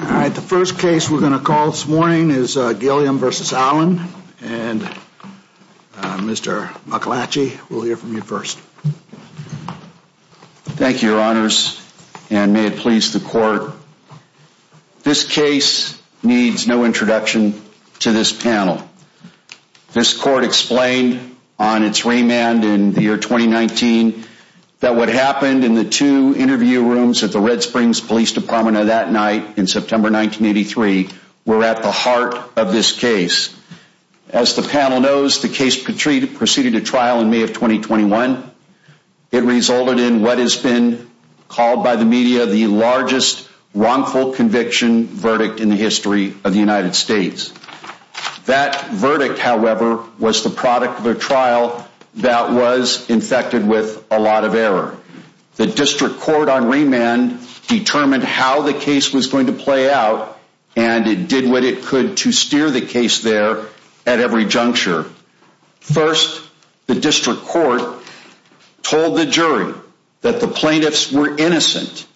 All right, the first case we're going to call this morning is Gilliam v. Allen, and Mr. McElatchy, we'll hear from you first. Thank you, your honors, and may it please the court. This case needs no introduction to this panel. This court explained on its remand in the year 2019 that what happened in the two interview rooms at the Red Springs Police Department that night in September 1983 were at the heart of this case. As the panel knows, the case proceeded to trial in May of 2021. It resulted in what has been called by the media the largest wrongful conviction verdict in the history of the United States. That verdict, however, was the product of a trial that was infected with a lot of error. The district court on remand determined how the case was going to play out, and it did what it could to steer the case there at every juncture. First, the district court told the jury that the plaintiffs were innocent,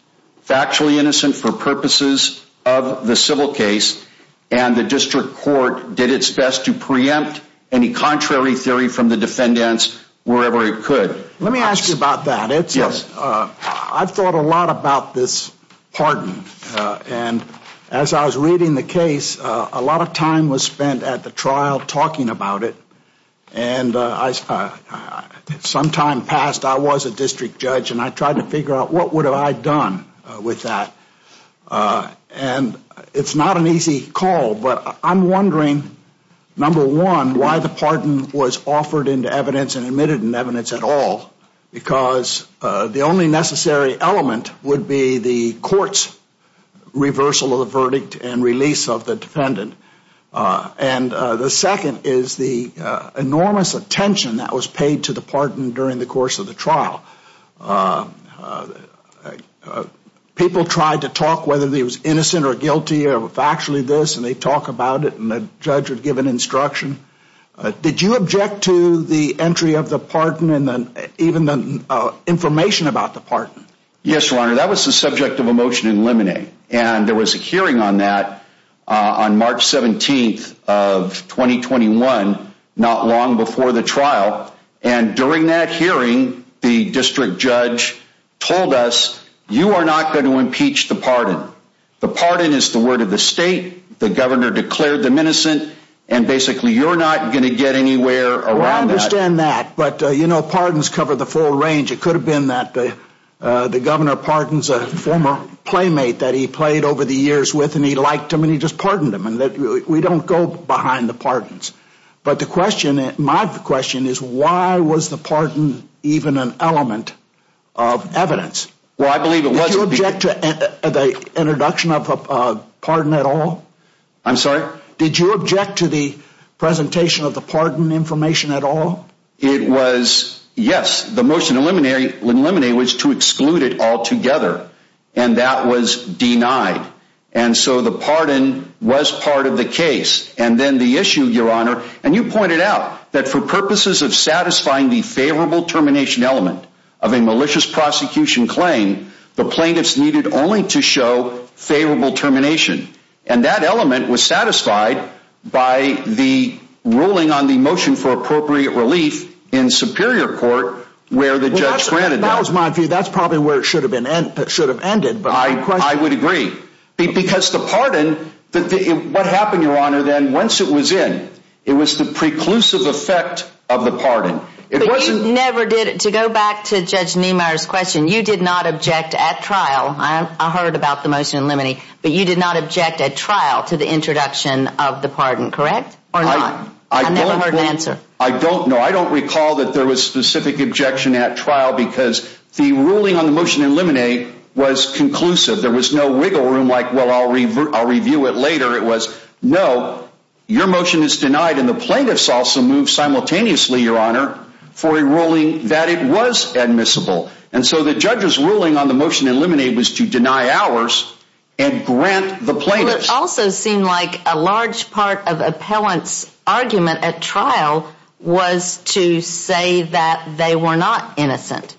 factually innocent for purposes of the civil case, and the district court did its best to preempt any contrary theory from the defendants wherever it could. Let me ask you about that. Yes. I've thought a lot about this pardon, and as I was reading the case, a lot of time was spent at the trial talking about it, and some time passed, I was a district judge, and I tried to figure out what would I have done with that, and it's not an easy call, but I'm wondering, number one, why the pardon was offered into evidence and admitted in the trial, because the only necessary element would be the court's reversal of the verdict and release of the defendant, and the second is the enormous attention that was paid to the pardon during the course of the trial. People tried to talk whether he was innocent or guilty or factually this, and they talk about it, and the judge would give an instruction. Did you object to the entry of the pardon and even the information about the pardon? Yes, your honor, that was the subject of a motion in limine, and there was a hearing on that on March 17th of 2021, not long before the trial, and during that hearing, the district judge told us, you are not going to impeach the pardon. The pardon is the word of the state. The governor declared them innocent, and basically you're not going to get anywhere around that. Well, I understand that, but you know, pardons cover the full range. It could have been that the governor pardons a former playmate that he played over the years with, and he liked him, and he just pardoned him, and we don't go behind the pardons, but the question, my question, is why was the pardon even an element of evidence? Did you object to the introduction of a pardon at all? I'm sorry? Did you object to the presentation of the pardon information at all? It was, yes, the motion in limine was to exclude it altogether, and that was denied, and so the pardon was part of the case, and then the issue, your honor, and you pointed out that for purposes of satisfying the favorable termination element of a malicious prosecution claim, the plaintiffs needed only to show favorable termination, and that element was satisfied by the ruling on the motion for appropriate relief in superior court where the judge granted that. Well, that was my view. That's probably where it should have been, should have ended, but my question. I would agree, because the pardon, what happened, your honor, then, once it was in, it was the preclusive effect of the pardon. But you never did, to go back to Judge Niemeyer's question, you did not object at trial, I heard about the motion in limine, but you did not object at trial to the introduction of the pardon, correct? Or not? I never heard an answer. I don't know. I don't recall that there was specific objection at trial, because the ruling on the motion in limine was conclusive. There was no wiggle room like, well, I'll review it later, it was, no, your motion is for a ruling that it was admissible. And so the judge's ruling on the motion in limine was to deny ours, and grant the plaintiff's. Well, it also seemed like a large part of appellant's argument at trial was to say that they were not innocent.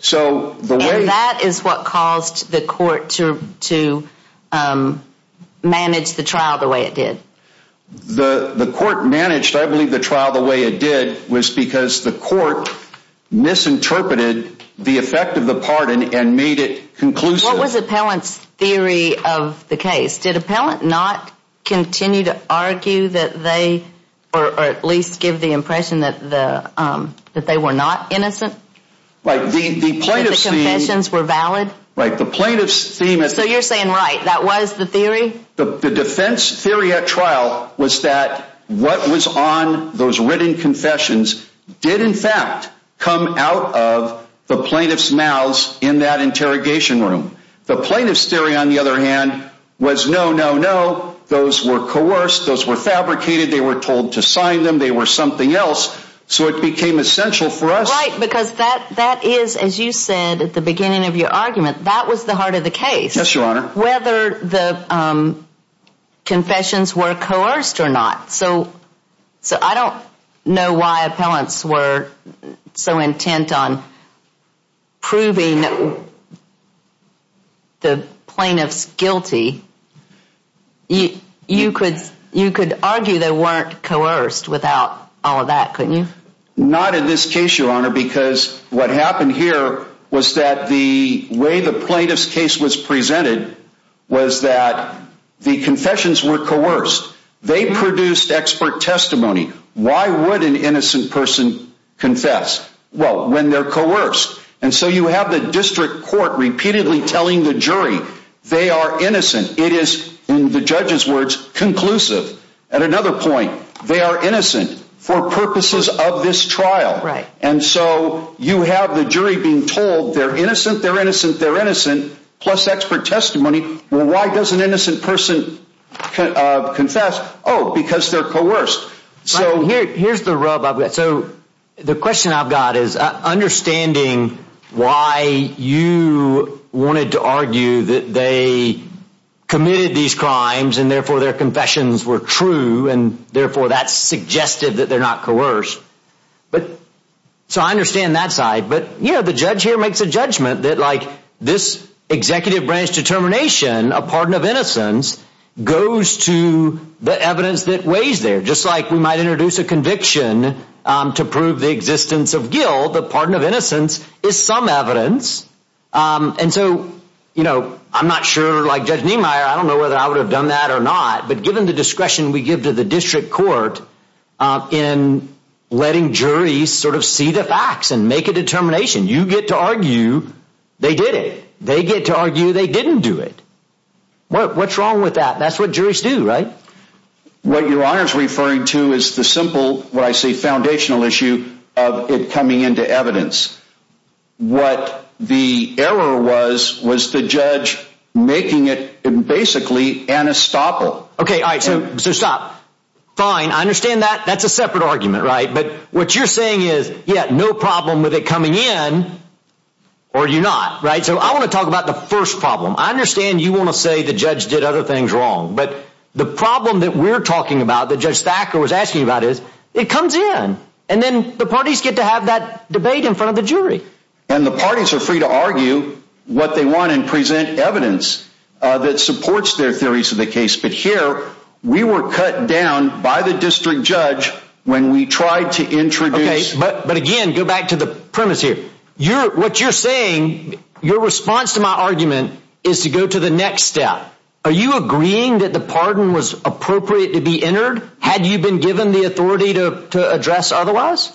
So the way... And that is what caused the court to manage the trial the way it did. The court managed, I believe, the trial the way it did was because the court misinterpreted the effect of the pardon and made it conclusive. What was appellant's theory of the case? Did appellant not continue to argue that they, or at least give the impression that they were not innocent? That the confessions were valid? Right. The plaintiff's theme... So you're saying, right, that was the theory? The defense theory at trial was that what was on those written confessions did in fact come out of the plaintiff's mouths in that interrogation room. The plaintiff's theory, on the other hand, was no, no, no, those were coerced, those were fabricated, they were told to sign them, they were something else. So it became essential for us... Right, because that is, as you said at the beginning of your argument, that was the heart of the case. Yes, your honor. Whether the confessions were coerced or not. So I don't know why appellants were so intent on proving the plaintiff's guilty. You could argue they weren't coerced without all of that, couldn't you? Not in this case, your honor, because what happened here was that the way the plaintiff's case was presented was that the confessions were coerced. They produced expert testimony. Why would an innocent person confess, well, when they're coerced? And so you have the district court repeatedly telling the jury they are innocent. It is, in the judge's words, conclusive. At another point, they are innocent for purposes of this trial. And so you have the jury being told they're innocent, they're innocent, they're innocent, plus expert testimony. Why does an innocent person confess? Because they're coerced. Here's the rub I've got. So the question I've got is, understanding why you wanted to argue that they committed these crimes and therefore their confessions were true, and therefore that suggested that they're not coerced. But so I understand that side. But yeah, the judge here makes a judgment that like this executive branch determination, a pardon of innocence goes to the evidence that weighs there, just like we might introduce a conviction to prove the existence of guilt. The pardon of innocence is some evidence. And so, you know, I'm not sure like Judge Niemeyer, I don't know whether I would have done that or not. But given the discretion we give to the district court in letting juries sort of see the facts and make a determination, you get to argue they did it. They get to argue they didn't do it. What's wrong with that? That's what juries do, right? What your honor is referring to is the simple, what I say, foundational issue of it coming into evidence. What the error was, was the judge making it basically anesthetical. OK, all right. So stop. Fine. I understand that. That's a separate argument. Right. But what you're saying is, yeah, no problem with it coming in or you're not. Right. So I want to talk about the first problem. I understand you want to say the judge did other things wrong. But the problem that we're talking about, the judge was asking about is it comes in And then the parties get to have that debate in front of the jury. And the parties are free to argue what they want and present evidence that supports their theories of the case. But here we were cut down by the district judge when we tried to introduce. But again, go back to the premise here. What you're saying, your response to my argument is to go to the next step. Are you agreeing that the pardon was appropriate to be entered? Had you been given the authority to address otherwise?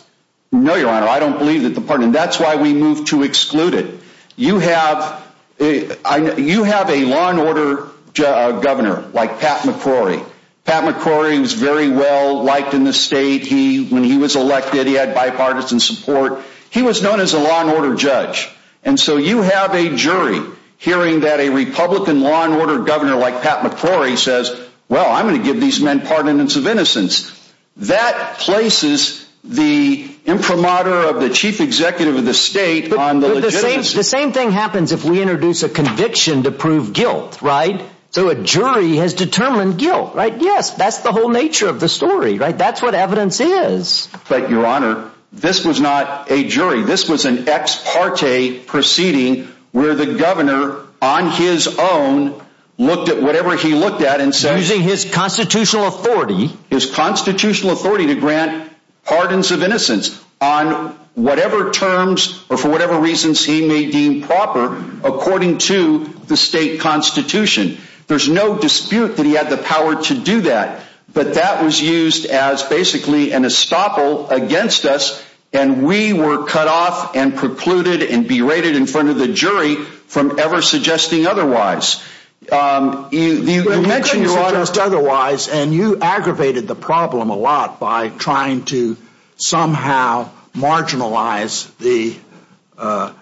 No, your honor. I don't believe that the pardon. That's why we moved to exclude it. You have a you have a law and order governor like Pat McCrory. Pat McCrory was very well liked in the state. He when he was elected, he had bipartisan support. He was known as a law and order judge. And so you have a jury hearing that a Republican law and order governor like Pat McCrory says, well, I'm going to give these men pardon and sub innocence that places the imprimatur of the chief executive of the state on the same. The same thing happens if we introduce a conviction to prove guilt. Right. So a jury has determined guilt. Right. Yes. That's the whole nature of the story. Right. That's what evidence is. But your honor, this was not a jury. This was an ex parte proceeding where the governor on his own looked at whatever he looked at and said using his constitutional authority, his constitutional authority to grant pardons of innocence on whatever terms or for whatever reasons he may deem proper according to the state constitution. There's no dispute that he had the power to do that. But that was used as basically an estoppel against us. And we were cut off and precluded and berated in front of the jury from ever suggesting otherwise. Yes. You mentioned otherwise and you aggravated the problem a lot by trying to somehow marginalize the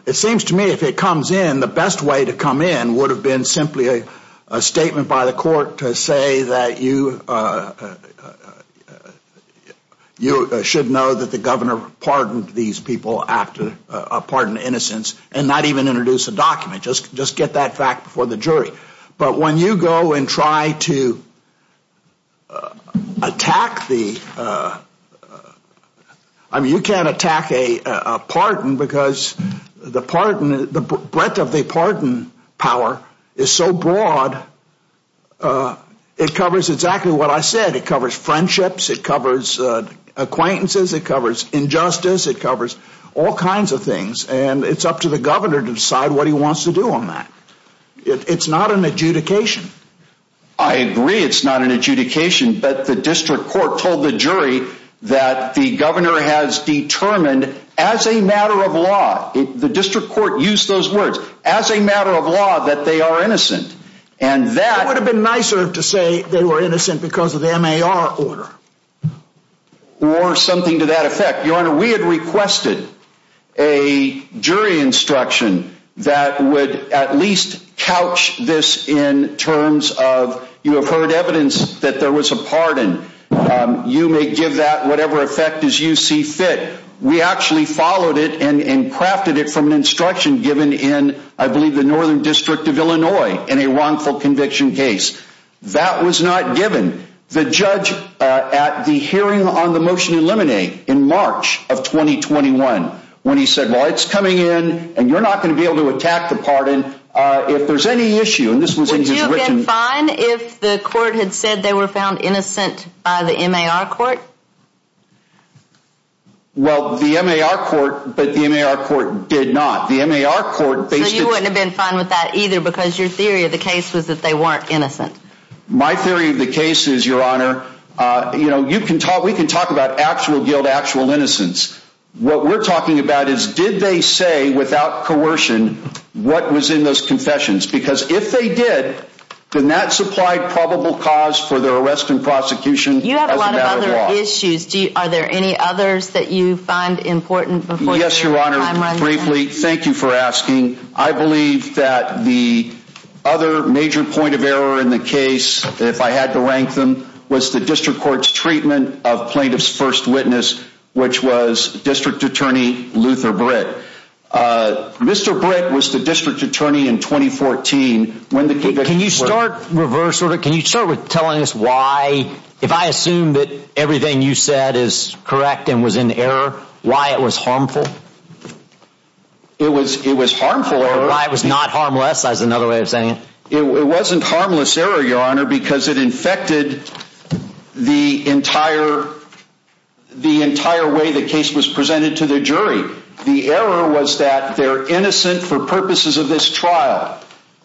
it seems to me if it comes in, the best way to come in would have been simply a statement by the court to say that you should know that the governor pardoned these people after pardon innocence and not even introduce a document. Just get that fact before the jury. But when you go and try to attack the I mean you can't attack a pardon because the breadth of the pardon power is so broad it covers exactly what I said. It covers friendships, it covers acquaintances, it covers injustice, it covers all kinds of things. And it's up to the governor to decide what he wants to do on that. It's not an adjudication. I agree it's not an adjudication but the district court told the jury that the governor has determined as a matter of law, the district court used those words, as a matter of law that they are innocent. And that It would have been nicer to say they were innocent because of the MAR order. Or something to that effect. We had requested a jury instruction that would at least couch this in terms of you have heard evidence that there was a pardon. You may give that whatever effect as you see fit. We actually followed it and crafted it from an instruction given in I believe the Northern District of Illinois in a wrongful conviction case. That was not given. The judge at the hearing on the motion in Lemonade in March of 2021 when he said well it's coming in and you're not going to be able to attack the pardon if there's any issue. Would you have been fine if the court had said they were found innocent by the MAR court? Well the MAR court, but the MAR court did not. The MAR court So you wouldn't have been fine with that either because your theory of the case was that they weren't innocent. My theory of the case is your honor, we can talk about actual guilt, actual innocence. What we're talking about is did they say without coercion what was in those confessions because if they did then that supplied probable cause for their arrest and prosecution as a matter of law. You have a lot of other issues. Are there any others that you find important before your time runs out? Yes your honor. Briefly, thank you for asking. I believe that the other major point of error in the case, if I had to rank them, was the district court's treatment of plaintiff's first witness, which was District Attorney Luther Britt. Mr. Britt was the district attorney in 2014 when the conviction. Can you start reverse order? Can you start with telling us why, if I assume that everything you said is correct and was in error, why it was harmful? It was harmful. Why it was not harmless is another way of saying it. It wasn't harmless error your honor because it infected the entire way the case was presented to the jury. The error was that they're innocent for purposes of this trial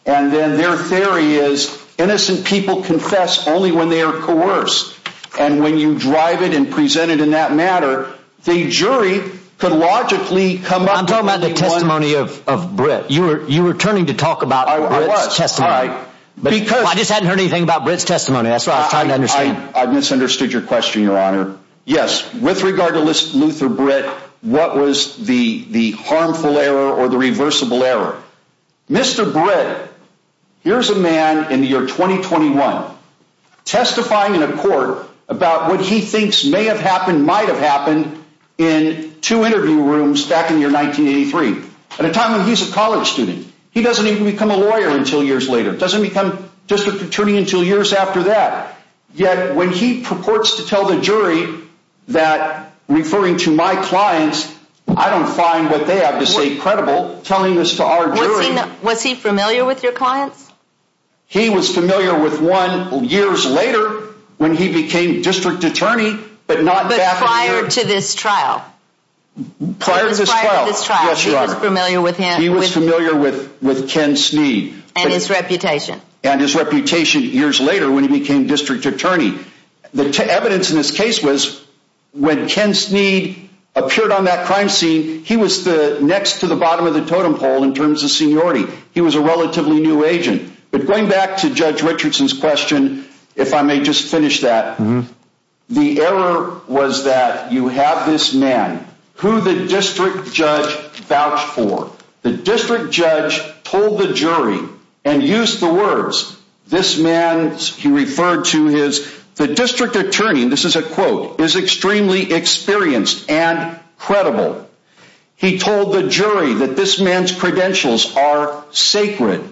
and then their theory is innocent people confess only when they are coerced and when you drive it and present it in that manner, the jury could logically come up with a... I'm talking about the testimony of Britt. You were turning to talk about Britt's testimony. I was. Alright. I just hadn't heard anything about Britt's testimony. That's what I was trying to understand. I misunderstood your question your honor. Yes, with regard to Luther Britt, what was the harmful error or the reversible error? Mr. Britt, here's a man in the year 2021, testifying in a court about what he thinks may have happened, might have happened in two interview rooms back in the year 1983. At a time when he's a college student. He doesn't even become a lawyer until years later. Doesn't become district attorney until years after that. Yet when he purports to tell the jury that referring to my clients, I don't find what they have to say credible telling this to our jury. Was he familiar with your clients? He was familiar with one years later when he became district attorney, but not back in the year... But prior to this trial. Prior to this trial. Prior to this trial. Yes, your honor. He was familiar with him. He was familiar with Ken Sneed. And his reputation. And his reputation years later when he became district attorney. The evidence in this case was when Ken Sneed appeared on that crime scene, he was the next to the bottom of the totem pole in terms of seniority. He was a relatively new agent. But going back to Judge Richardson's question, if I may just finish that. The error was that you have this man who the district judge vouched for. The district judge told the jury and used the words. This man, he referred to his, the district attorney, this is a quote, is extremely experienced and credible. He told the jury that this man's credentials are sacred.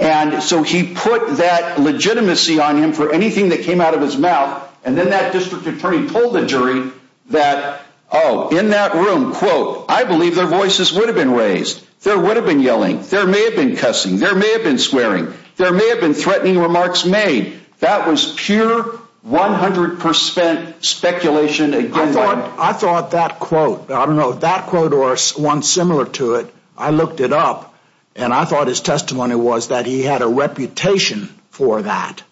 And so he put that legitimacy on him for anything that came out of his mouth. And then that district attorney told the jury that, oh, in that room, quote, I believe their voices would have been raised. There would have been yelling. There may have been cussing. There may have been swearing. There may have been threatening remarks made. That was pure 100% speculation. I thought that quote, I don't know if that quote or one similar to it, I looked it up and I thought his testimony was that he had a reputation for that.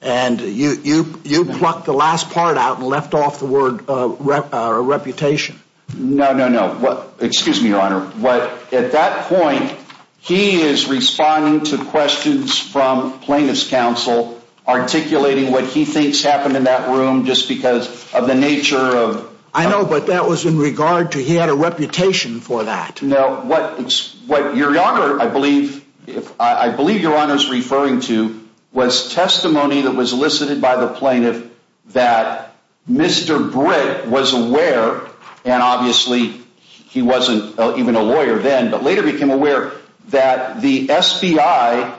And you, you, you plucked the last part out and left off the word reputation. No, no, no. Well, excuse me, Your Honor. But at that point, he is responding to questions from plaintiff's counsel, articulating what he thinks happened in that room just because of the nature of. I know, but that was in regard to he had a reputation for that. No, what is what Your Honor? I believe if I believe Your Honor is referring to was testimony that was elicited by the plaintiff that Mr. Britt was aware. And obviously he wasn't even a lawyer then, but later became aware that the FBI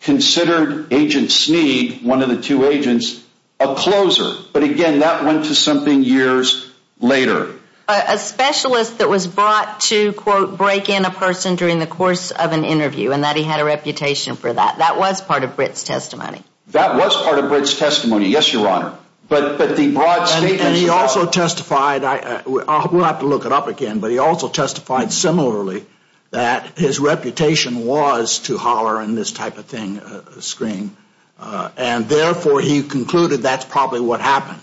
considered Agent Snead, one of the two agents, a closer. But again, that went to something years later. A specialist that was brought to quote, break in a person during the course of an interview and that he had a reputation for that. That was part of Britt's testimony. That was part of Britt's testimony. Yes, Your Honor. But, but the broad statement. And he also testified, we'll have to look it up again, but he also testified similarly that his reputation was to holler and this type of thing, scream. And therefore he concluded that's probably what happened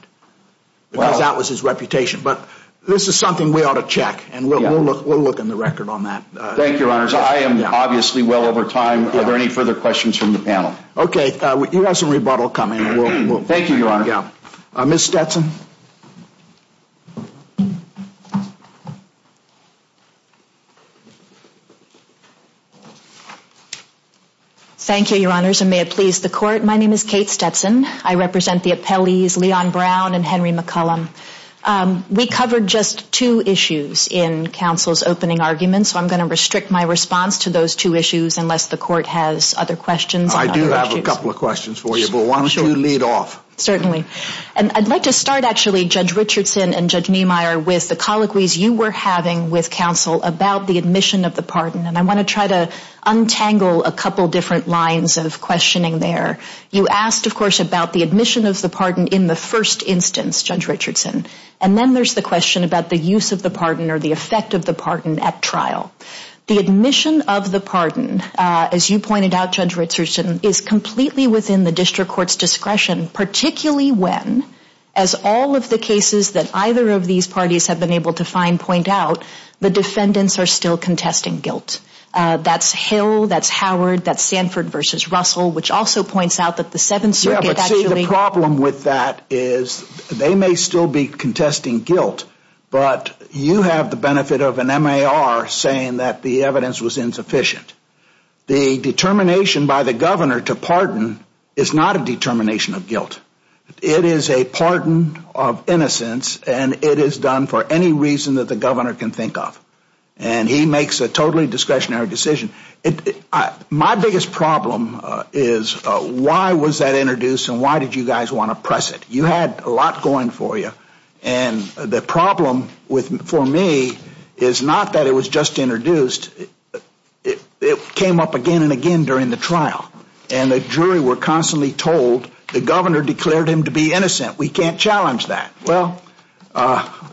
because that was his reputation. But this is something we ought to check and we'll look, we'll look in the record on that. Thank you, Your Honor. So I am obviously well over time. Are there any further questions from the panel? Okay. You have some rebuttal coming. Thank you, Your Honor. Yeah. Ms. Stetson. Thank you, Your Honors, and may it please the court. My name is Kate Stetson. I represent the appellees Leon Brown and Henry McCollum. We covered just two issues in counsel's opening argument, so I'm going to restrict my response to those two issues unless the court has other questions. I do have a couple of questions for you, but why don't you lead off? Certainly. And I'd like to start actually, Judge Richardson and Judge Niemeyer, with the colloquies you were having with counsel about the admission of the pardon, and I want to try to untangle a couple different lines of questioning there. You asked, of course, about the admission of the pardon in the first instance, Judge Richardson, and then there's the question about the use of the pardon or the effect of the pardon at trial. The admission of the pardon, as you pointed out, Judge Richardson, is completely within the district court's discretion, particularly when, as all of the cases that either of these parties have been able to find point out, the defendants are still contesting guilt. That's Hill, that's Howard, that's Sanford v. Russell, which also points out that the Seventh Circuit actually Yeah, but see, the problem with that is they may still be contesting guilt, but you have the benefit of an MAR saying that the evidence was insufficient. The determination by the governor to pardon is not a determination of guilt. It is a pardon of innocence, and it is done for any reason that the governor can think of, and he makes a totally discretionary decision. My biggest problem is why was that introduced and why did you guys want to press it? You had a lot going for you, and the problem for me is not that it was just introduced. It came up again and again during the trial, and the jury were constantly told the governor declared him to be innocent. We can't challenge that. Well,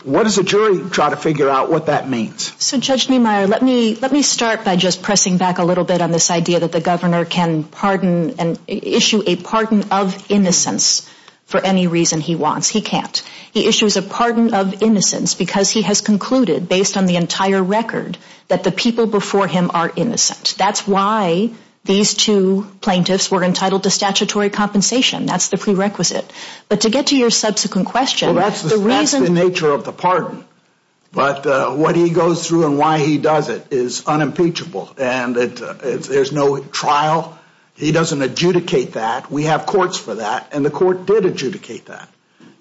what does a jury try to figure out what that means? So Judge Niemeyer, let me start by just pressing back a little bit on this idea that the governor can pardon and issue a pardon of innocence for any reason he wants. He can't. He issues a pardon of innocence because he has concluded, based on the entire record, that the people before him are innocent. That's why these two plaintiffs were entitled to statutory compensation. That's the prerequisite. But to get to your subsequent question, that's the reason That's the nature of the pardon, but what he goes through and why he does it is unimpeachable, and there's no trial. He doesn't adjudicate that. We have courts for that, and the court did adjudicate that.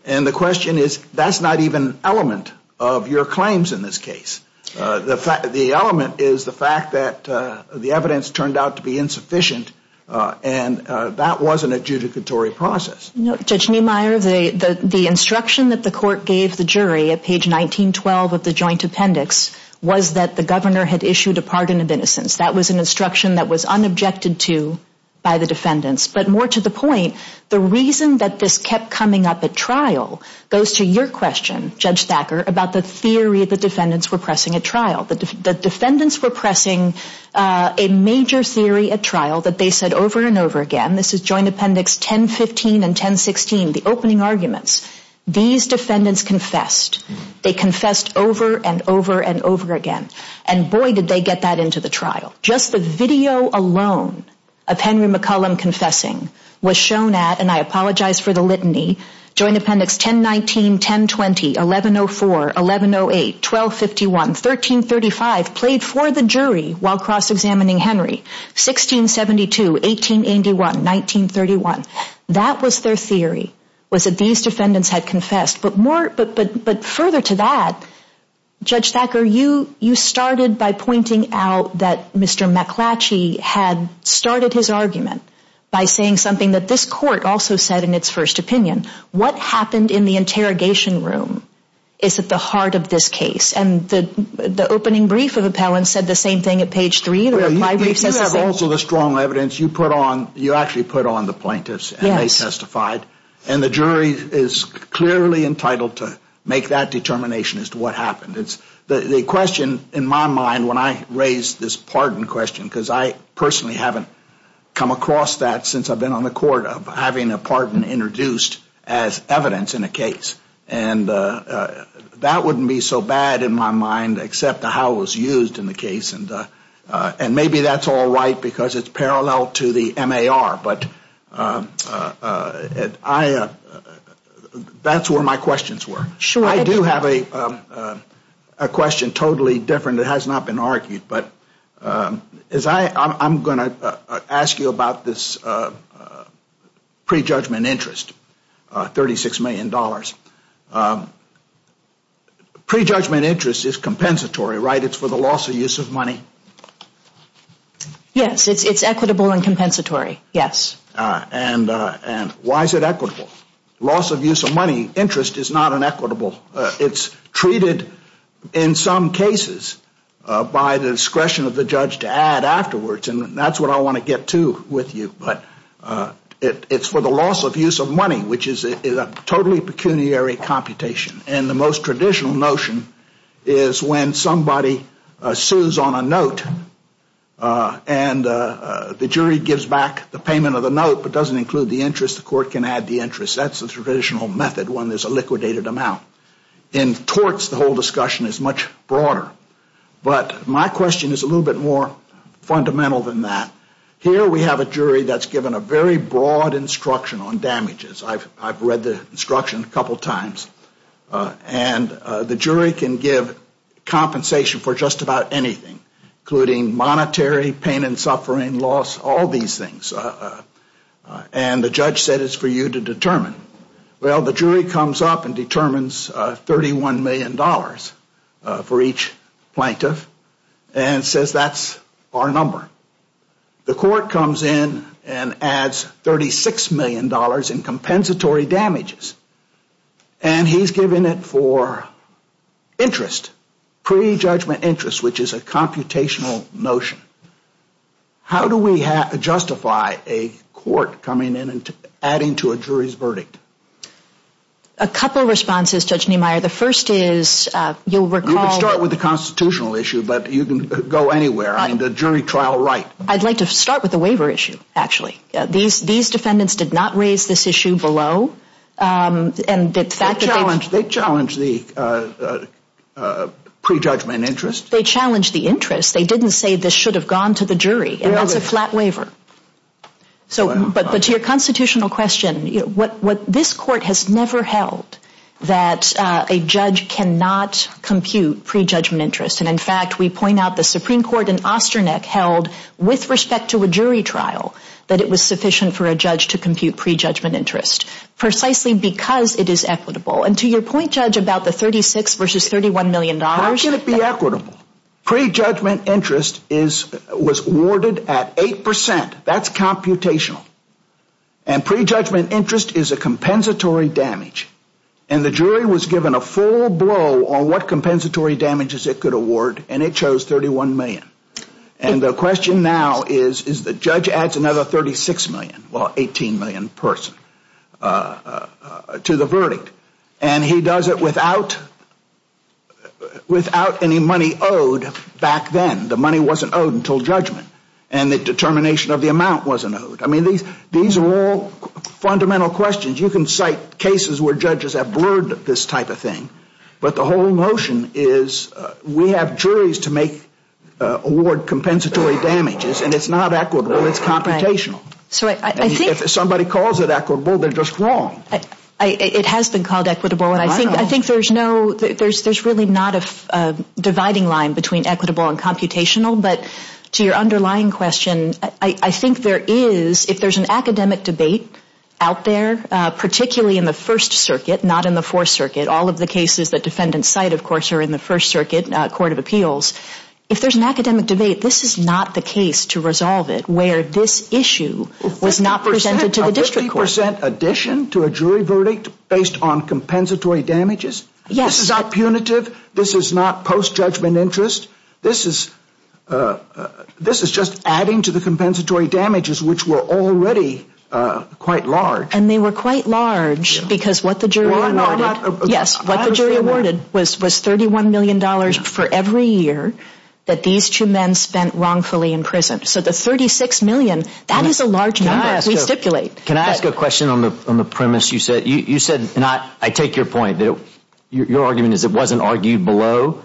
And the question is, that's not even an element of your claims in this case. The element is the fact that the evidence turned out to be insufficient, and that was an adjudicatory process. Judge Niemeyer, the instruction that the court gave the jury at page 1912 of the joint appendix was that the governor had issued a pardon of innocence. That was an instruction that was unobjected to by the defendants. But more to the point, the reason that this kept coming up at trial goes to your question, Judge Thacker, about the theory the defendants were pressing at trial. The defendants were pressing a major theory at trial that they said over and over again. This is joint appendix 1015 and 1016, the opening arguments. These defendants confessed. They confessed over and over and over again, and boy, did they get that into the trial. Just the video alone of Henry McCollum confessing was shown at, and I apologize for the litany, joint appendix 1019, 1020, 1104, 1108, 1251, 1335, played for the jury while cross-examining Henry, 1672, 1881, 1931. That was their theory, was that these defendants had confessed. But further to that, Judge Thacker, you started by pointing out that Mr. McClatchy had started his argument by saying something that this court also said in its first opinion. What happened in the interrogation room is at the heart of this case, and the opening brief of appellants said the same thing at page three. You have also the strong evidence, you actually put on the plaintiffs, and they testified, and the jury is clearly entitled to make that determination as to what happened. The question in my mind when I raise this pardon question, because I personally haven't come across that since I've been on the court, of having a pardon introduced as evidence in a case. And that wouldn't be so bad in my mind, except how it was used in the case. And maybe that's all right, because it's parallel to the MAR, but that's where my questions were. I do have a question totally different that has not been argued, but I'm going to ask you about this prejudgment interest, $36 million. Prejudgment interest is compensatory, right? It's for the loss or use of money? Yes, it's equitable and compensatory, yes. And why is it equitable? Loss of use of money, interest, is not inequitable. It's treated in some cases by the discretion of the judge to add afterwards, and that's what I want to get to with you. But it's for the loss of use of money, which is a totally pecuniary computation. And the most traditional notion is when somebody sues on a note and the jury gives back the payment of the note but doesn't include the interest, the court can add the interest. That's the traditional method when there's a liquidated amount. In torts, the whole discussion is much broader. But my question is a little bit more fundamental than that. Here we have a jury that's given a very broad instruction on damages. I've read the instruction a couple times. And the jury can give compensation for just about anything, including monetary, pain and suffering, loss, all these things. And the judge said it's for you to determine. Well, the jury comes up and determines $31 million for each plaintiff and says that's our number. The court comes in and adds $36 million in compensatory damages. And he's given it for interest, pre-judgment interest, which is a computational notion. How do we justify a court coming in and adding to a jury's verdict? A couple of responses, Judge Niemeyer. The first is you'll recall... You can start with the constitutional issue, but you can go anywhere. I mean, the jury trial right. I'd like to start with the waiver issue, actually. These defendants did not raise this issue below. And the fact that they... They challenged the pre-judgment interest. They challenged the interest. They didn't say this should have gone to the jury. And that's a flat waiver. So, but to your constitutional question, what this court has never held, that a judge cannot compute pre-judgment interest. And in fact, we point out the Supreme Court in Osterneck held, with respect to a jury trial, that it was sufficient for a judge to compute pre-judgment interest, precisely because it is equitable. And to your point, Judge, about the 36 versus $31 million. How can it be equitable? Pre-judgment interest was awarded at 8%. That's computational. And pre-judgment interest is a compensatory damage. And the jury was given a full blow on what compensatory damages it could award. And it chose $31 million. And the question now is, is the judge adds another $36 million, well, $18 million person to the verdict. And he does it without any money owed back then. The money wasn't owed until judgment. And the determination of the amount wasn't owed. I mean, these are all fundamental questions. You can cite cases where judges have blurred this type of thing. But the whole notion is, we have juries to make, award compensatory damages. And it's not equitable. It's computational. So, I think. If somebody calls it equitable, they're just wrong. It has been called equitable. And I think there's really not a dividing line between equitable and computational. But to your underlying question, I think there is, if there's an academic debate out there, particularly in the First Circuit, not in the Fourth Circuit. All of the cases that defendants cite, of course, are in the First Circuit Court of Appeals. If there's an academic debate, this is not the case to resolve it, where this issue was not presented to the district court. This is a 50% addition to a jury verdict based on compensatory damages? Yes. This is not punitive. This is not post-judgment interest. This is just adding to the compensatory damages, which were already quite large. And they were quite large, because what the jury awarded. Yes. What the jury awarded was $31 million for every year that these two men spent wrongfully in prison. So, the $36 million, that is a large number. Can I ask a question on the premise you said? You said, and I take your point, that your argument is it wasn't argued below.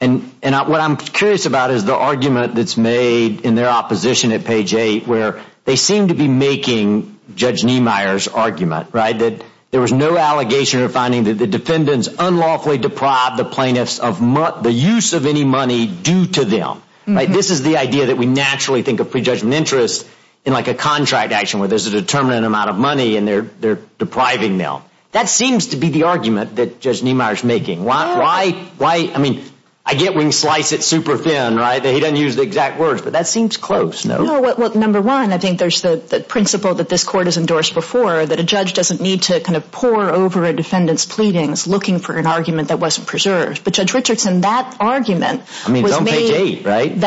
And what I'm curious about is the argument that's made in their opposition at page 8, where they seem to be making Judge Niemeyer's argument, right, that there was no allegation or finding that the defendants unlawfully deprived the plaintiffs of the use of any money due to them. This is the idea that we naturally think of pre-judgment interest in like a contract action where there's a determinate amount of money and they're depriving them. That seems to be the argument that Judge Niemeyer's making. Why, I mean, I get when you slice it super thin, right, that he doesn't use the exact words, but that seems close. No. Well, number one, I think there's the principle that this court has endorsed before, that a judge doesn't need to kind of pour over a defendant's pleadings looking for an argument that wasn't preserved. But Judge Richardson, that argument was made. I mean, it's on page 8, right?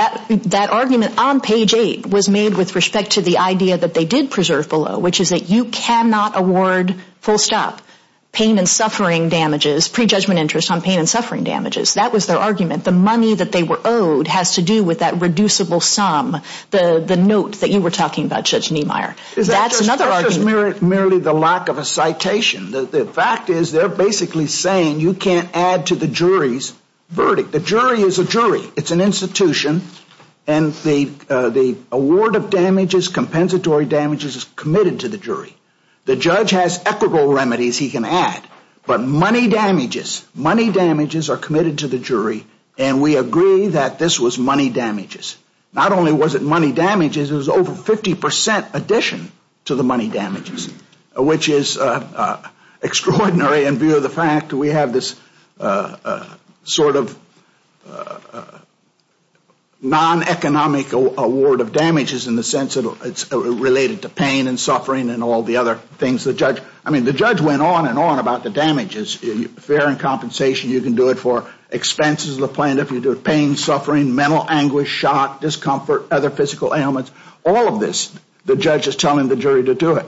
That argument on page 8 was made with respect to the idea that they did preserve below, which is that you cannot award full stop pain and suffering damages, pre-judgment interest on pain and suffering damages. That was their argument. The money that they were owed has to do with that reducible sum, the note that you were talking about, Judge Niemeyer. That's another argument. That's just merely the lack of a citation. The fact is they're basically saying you can't add to the jury's verdict. The jury is a jury. It's an institution, and the award of damages, compensatory damages, is committed to the jury. The judge has equitable remedies he can add, but money damages, money damages are committed to the jury, and we agree that this was money damages. Not only was it money damages, it was over 50% addition to the money damages, which is extraordinary in view of the fact that we have this sort of non-economic award of damages in the sense that it's related to pain and suffering and all the other things. I mean, the judge went on and on about the damages. Fair and compensation, you can do it for expenses of the plaintiff, you can do it for pain, suffering, mental anguish, shock, discomfort, other physical ailments. All of this the judge is telling the jury to do it.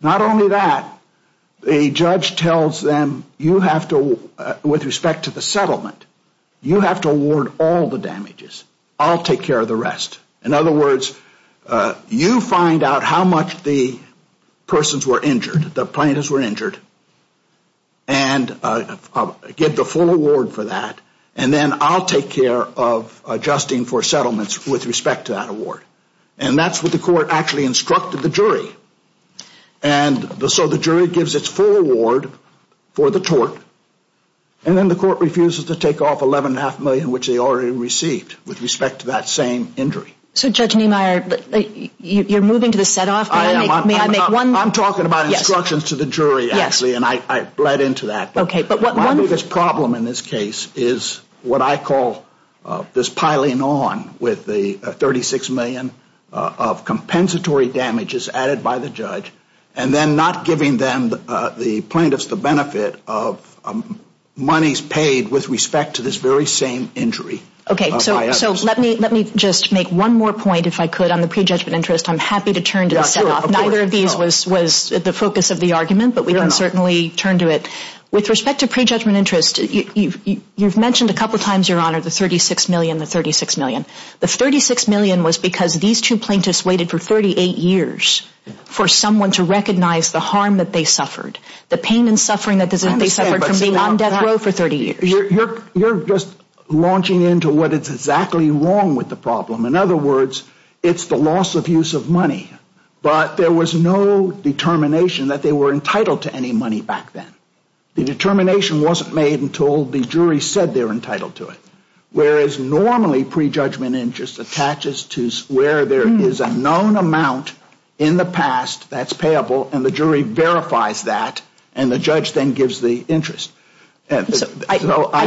Not only that, the judge tells them you have to, with respect to the settlement, you have to award all the damages. I'll take care of the rest. In other words, you find out how much the persons were injured, the plaintiffs were injured, and get the full award for that, and then I'll take care of adjusting for settlements with respect to that award. And that's what the court actually instructed the jury. And so the jury gives its full award for the tort, and then the court refuses to take off $11.5 million, which they already received with respect to that same injury. So, Judge Niemeyer, you're moving to the set-off? I am. I'm talking about instructions to the jury, actually, and I bled into that. My biggest problem in this case is what I call this piling on with the $36 million of compensatory damages added by the judge, and then not giving them, the plaintiffs, the benefit of monies paid with respect to this very same injury. Okay, so let me just make one more point, if I could, on the prejudgment interest. I'm happy to turn to the set-off. Neither of these was the focus of the argument, but we can certainly turn to it. With respect to prejudgment interest, you've mentioned a couple times, Your Honor, the $36 million, the $36 million. The $36 million was because these two plaintiffs waited for 38 years for someone to recognize the harm that they suffered, the pain and suffering that they suffered from being on death row for 30 years. You're just launching into what is exactly wrong with the problem. In other words, it's the loss of use of money. But there was no determination that they were entitled to any money back then. The determination wasn't made until the jury said they were entitled to it, whereas normally prejudgment interest attaches to where there is a known amount in the past that's payable, and the jury verifies that, and the judge then gives the interest. I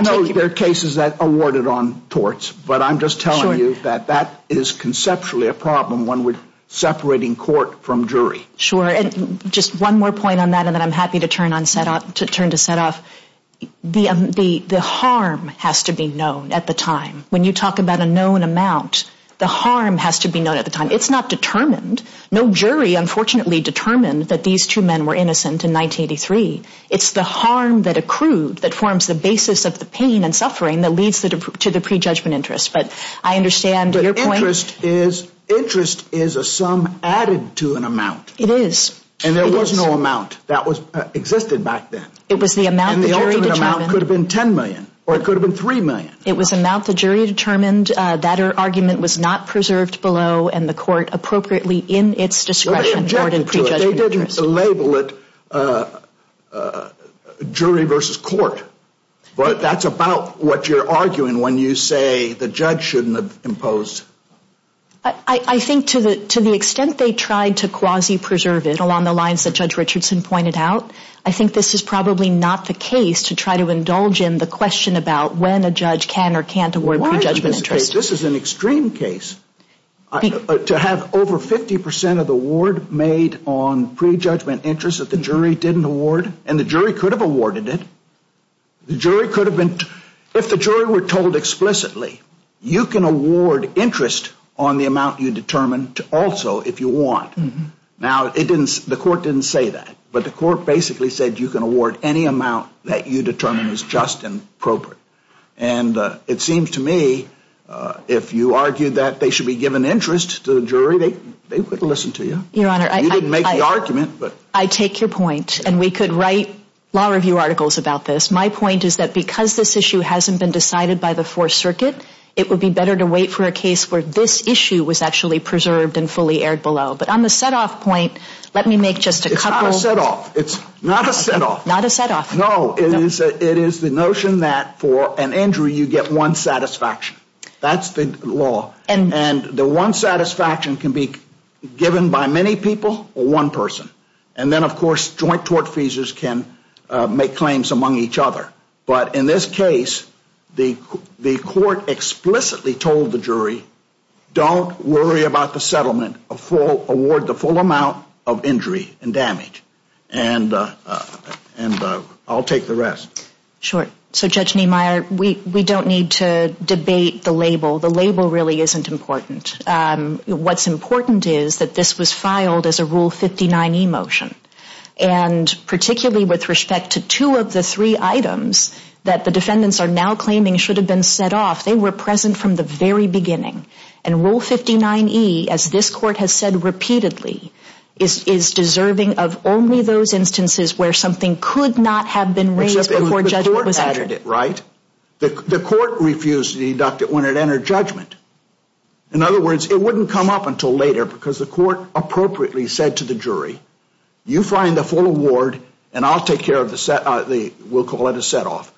know there are cases that award it on torts, but I'm just telling you that that is conceptually a problem. One would separate in court from jury. Sure, and just one more point on that, and then I'm happy to turn to Sethoff. The harm has to be known at the time. When you talk about a known amount, the harm has to be known at the time. It's not determined. No jury, unfortunately, determined that these two men were innocent in 1983. It's the harm that accrued that forms the basis of the pain and suffering that leads to the prejudgment interest, but I understand your point. Interest is a sum added to an amount. It is. And there was no amount that existed back then. It was the amount the jury determined. And the ultimate amount could have been $10 million or it could have been $3 million. It was the amount the jury determined that argument was not preserved below and the court appropriately in its discretion awarded prejudgment interest. They didn't label it jury versus court, but that's about what you're arguing when you say the judge shouldn't have imposed. I think to the extent they tried to quasi-preserve it along the lines that Judge Richardson pointed out, I think this is probably not the case to try to indulge in the question about when a judge can or can't award prejudgment interest. Why is this a case? This is an extreme case. To have over 50% of the award made on prejudgment interest that the jury didn't award, and the jury could have awarded it. If the jury were told explicitly, you can award interest on the amount you determine also if you want. Now, the court didn't say that, but the court basically said you can award any amount that you determine is just and appropriate. And it seems to me if you argue that they should be given interest to the jury, they would listen to you. Your Honor, I take your point. And we could write law review articles about this. My point is that because this issue hasn't been decided by the Fourth Circuit, it would be better to wait for a case where this issue was actually preserved and fully aired below. But on the set-off point, let me make just a couple. It's not a set-off. It's not a set-off. Not a set-off. No, it is the notion that for an injury you get one satisfaction. That's the law. And the one satisfaction can be given by many people or one person. And then, of course, joint tort feasors can make claims among each other. But in this case, the court explicitly told the jury, don't worry about the settlement. Award the full amount of injury and damage. And I'll take the rest. Sure. So, Judge Niemeyer, we don't need to debate the label. The label really isn't important. What's important is that this was filed as a Rule 59e motion. And particularly with respect to two of the three items that the defendants are now claiming should have been set off, they were present from the very beginning. And Rule 59e, as this court has said repeatedly, is deserving of only those instances where something could not have been raised before judgment was entered. The court refused to deduct it when it entered judgment. In other words, it wouldn't come up until later because the court appropriately said to the jury, you find the full award, and I'll take care of the set, we'll call it a set off.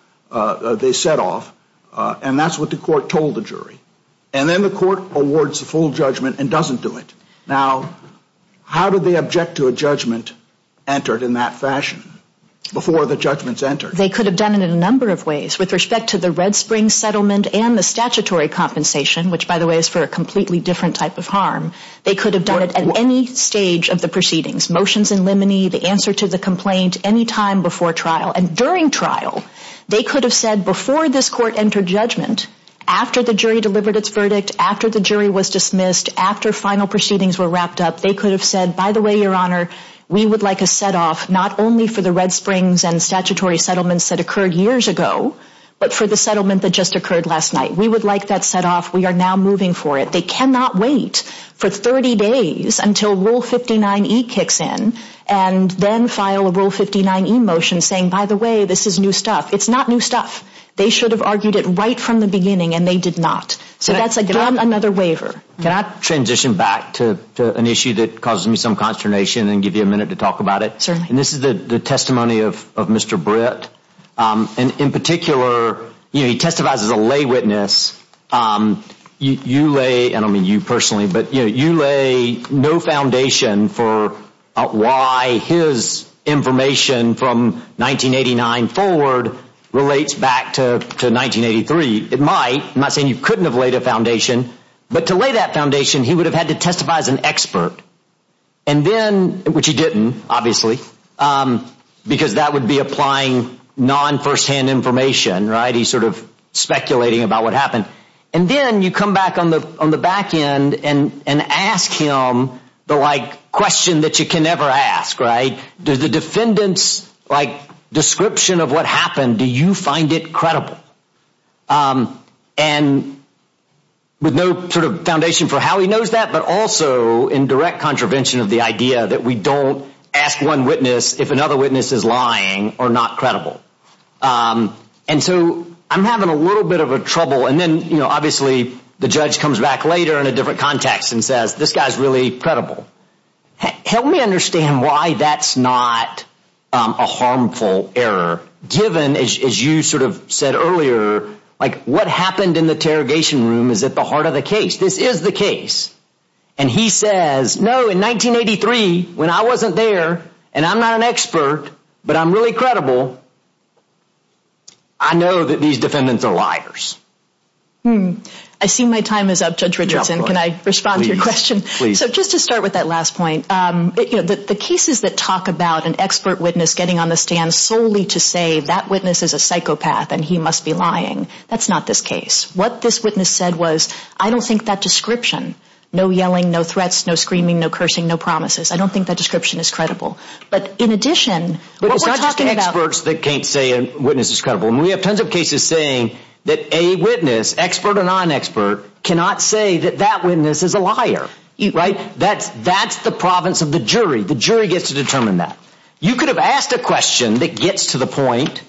They set off. And that's what the court told the jury. And then the court awards the full judgment and doesn't do it. Now, how do they object to a judgment entered in that fashion before the judgment's entered? They could have done it in a number of ways. With respect to the Red Springs settlement and the statutory compensation, which, by the way, is for a completely different type of harm, they could have done it at any stage of the proceedings. Motions in limine, the answer to the complaint, any time before trial. And during trial, they could have said before this court entered judgment, after the jury delivered its verdict, after the jury was dismissed, after final proceedings were wrapped up, they could have said, by the way, Your Honor, we would like a set off not only for the Red Springs and statutory settlements that occurred years ago, but for the settlement that just occurred last night. We would like that set off. We are now moving for it. They cannot wait for 30 days until Rule 59E kicks in and then file a Rule 59E motion saying, by the way, this is new stuff. It's not new stuff. They should have argued it right from the beginning, and they did not. So that's again another waiver. Can I transition back to an issue that causes me some consternation and give you a minute to talk about it? Certainly. And this is the testimony of Mr. Britt. And in particular, you know, he testifies as a lay witness. You lay, and I don't mean you personally, but, you know, you lay no foundation for why his information from 1989 forward relates back to 1983. It might. I'm not saying you couldn't have laid a foundation. But to lay that foundation, he would have had to testify as an expert. And then, which he didn't, obviously, because that would be applying non-first-hand information, right? He's sort of speculating about what happened. And then you come back on the back end and ask him the, like, question that you can never ask, right? Does the defendant's, like, description of what happened, do you find it credible? And with no sort of foundation for how he knows that, but also in direct contravention of the idea that we don't ask one witness if another witness is lying or not credible. And so I'm having a little bit of a trouble. And then, you know, obviously the judge comes back later in a different context and says, this guy's really credible. Help me understand why that's not a harmful error, given, as you sort of said earlier, like, what happened in the interrogation room is at the heart of the case. This is the case. And he says, no, in 1983, when I wasn't there, and I'm not an expert, but I'm really credible, I know that these defendants are liars. I see my time is up, Judge Richardson. Can I respond to your question? Please. So just to start with that last point, you know, the cases that talk about an expert witness getting on the stand solely to say that witness is a psychopath and he must be lying, that's not this case. What this witness said was, I don't think that description, no yelling, no threats, no screaming, no cursing, no promises, I don't think that description is credible. But in addition, what we're talking about – It's not just experts that can't say a witness is credible. And we have tons of cases saying that a witness, expert or non-expert, cannot say that that witness is a liar, right? That's the province of the jury. The jury gets to determine that. You could have asked a question that gets to the point,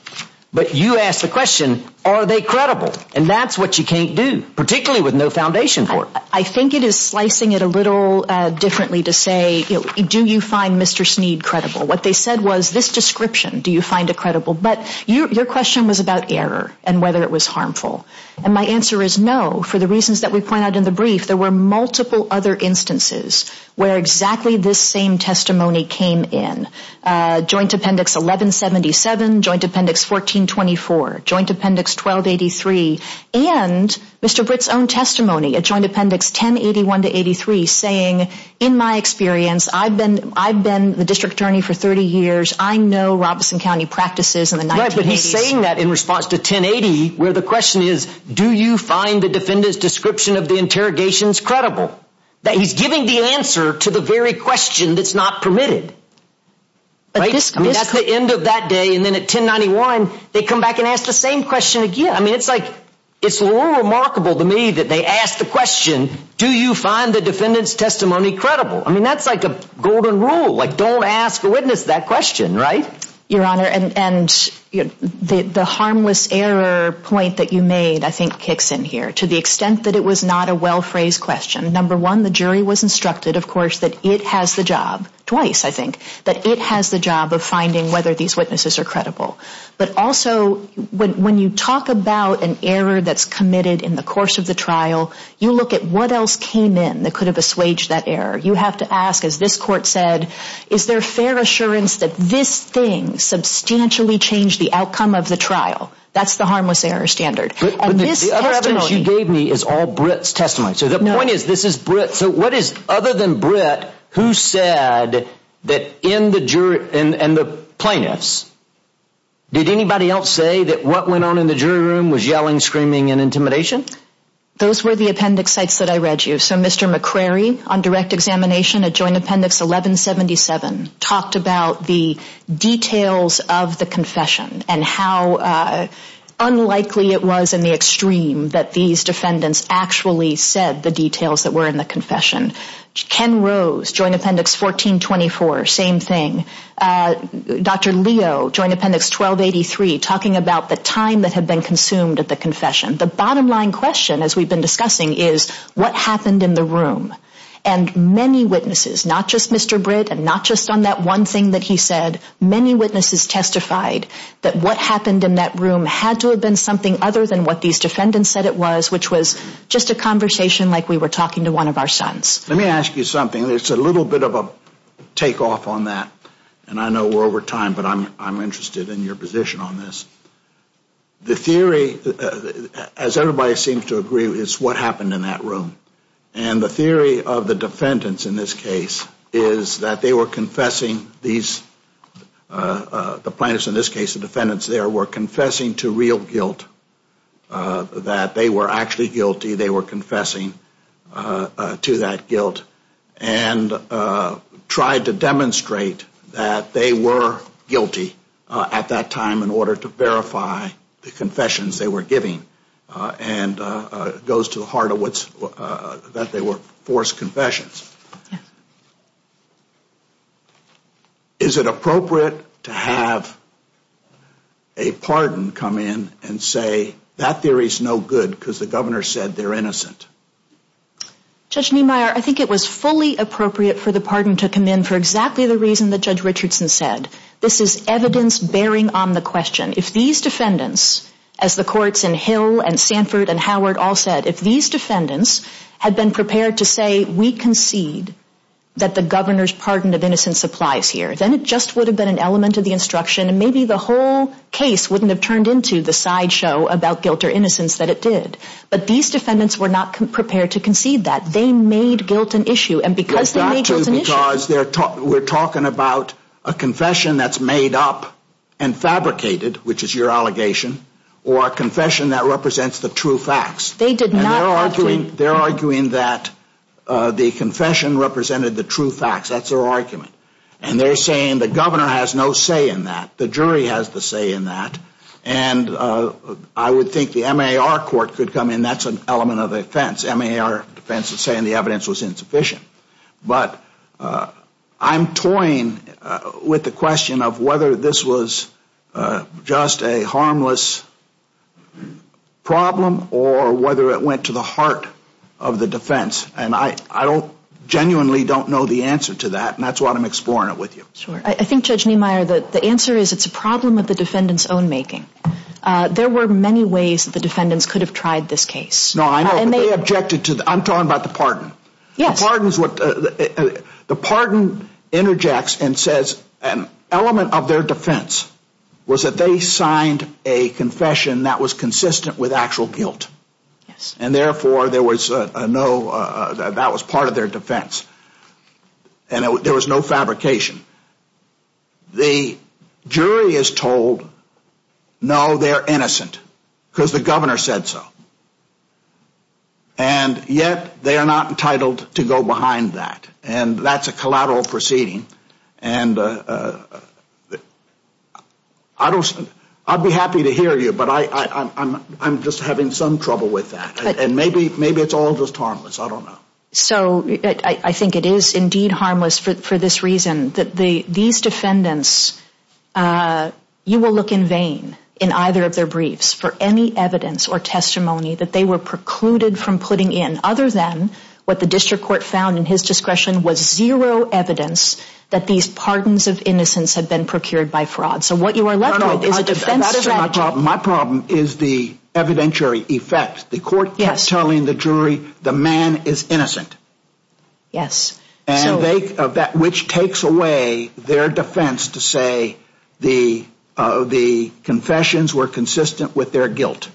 but you asked the question, are they credible? And that's what you can't do, particularly with no foundation for it. I think it is slicing it a little differently to say, do you find Mr. Sneed credible? What they said was, this description, do you find it credible? But your question was about error and whether it was harmful. And my answer is no, for the reasons that we point out in the brief. There were multiple other instances where exactly this same testimony came in. Joint Appendix 1177, Joint Appendix 1424, Joint Appendix 1283, and Mr. Britt's own testimony at Joint Appendix 1081-83 saying, in my experience, I've been the district attorney for 30 years, I know Robeson County practices in the 1980s. He's saying that in response to 1080 where the question is, do you find the defendant's description of the interrogations credible? He's giving the answer to the very question that's not permitted. I mean, that's the end of that day. And then at 1091, they come back and ask the same question again. I mean, it's like it's a little remarkable to me that they ask the question, do you find the defendant's testimony credible? I mean, that's like a golden rule, like don't ask a witness that question, right? Your Honor, and the harmless error point that you made, I think, kicks in here. To the extent that it was not a well-phrased question, number one, the jury was instructed, of course, that it has the job, twice, I think, that it has the job of finding whether these witnesses are credible. But also, when you talk about an error that's committed in the course of the trial, you look at what else came in that could have assuaged that error. You have to ask, as this court said, is there fair assurance that this thing substantially changed the outcome of the trial? That's the harmless error standard. But the other evidence you gave me is all Britt's testimony. So the point is, this is Britt. So what is, other than Britt, who said that in the jury and the plaintiffs, did anybody else say that what went on in the jury room was yelling, screaming, and intimidation? Those were the appendix sites that I read you. So Mr. McCrary, on direct examination at Joint Appendix 1177, talked about the details of the confession and how unlikely it was, in the extreme, that these defendants actually said the details that were in the confession. Ken Rose, Joint Appendix 1424, same thing. Dr. Leo, Joint Appendix 1283, talking about the time that had been consumed at the confession. The bottom line question, as we've been discussing, is, what happened in the room? And many witnesses, not just Mr. Britt, and not just on that one thing that he said, many witnesses testified that what happened in that room had to have been something other than what these defendants said it was, which was just a conversation like we were talking to one of our sons. Let me ask you something. It's a little bit of a takeoff on that, and I know we're over time, but I'm interested in your position on this. The theory, as everybody seems to agree, is what happened in that room. And the theory of the defendants in this case is that they were confessing, the plaintiffs in this case, the defendants there, were confessing to real guilt, that they were actually guilty. They were confessing to that guilt and tried to demonstrate that they were guilty at that time in order to verify the confessions they were giving. And it goes to the heart of that they were forced confessions. Yes. Is it appropriate to have a pardon come in and say that theory is no good because the governor said they're innocent? Judge Niemeyer, I think it was fully appropriate for the pardon to come in for exactly the reason that Judge Richardson said. This is evidence bearing on the question. If these defendants, as the courts in Hill and Sanford and Howard all said, if these defendants had been prepared to say, we concede that the governor's pardon of innocence applies here, then it just would have been an element of the instruction and maybe the whole case wouldn't have turned into the sideshow about guilt or innocence that it did. But these defendants were not prepared to concede that. They made guilt an issue. We're talking about a confession that's made up and fabricated, which is your allegation, or a confession that represents the true facts. They did not have to. They're arguing that the confession represented the true facts. That's their argument. And they're saying the governor has no say in that. The jury has the say in that. And I would think the MAR court could come in. That's an element of the defense. MAR defense is saying the evidence was insufficient. But I'm toying with the question of whether this was just a harmless problem or whether it went to the heart of the defense. And I genuinely don't know the answer to that, and that's why I'm exploring it with you. I think, Judge Niemeyer, the answer is it's a problem of the defendant's own making. There were many ways that the defendants could have tried this case. No, I know. I'm talking about the pardon. The pardon interjects and says an element of their defense was that they signed a confession that was consistent with actual guilt. And, therefore, that was part of their defense. And there was no fabrication. The jury is told, no, they're innocent because the governor said so. And, yet, they are not entitled to go behind that. And that's a collateral proceeding. And I'd be happy to hear you, but I'm just having some trouble with that. And maybe it's all just harmless. I don't know. So I think it is, indeed, harmless for this reason, that these defendants, you will look in vain in either of their briefs for any evidence or testimony that they were precluded from putting in other than what the district court found in his discretion was zero evidence that these pardons of innocence had been procured by fraud. So what you are left with is a defense strategy. My problem is the evidentiary effect. The court kept telling the jury the man is innocent, which takes away their defense to say the confessions were consistent with their guilt.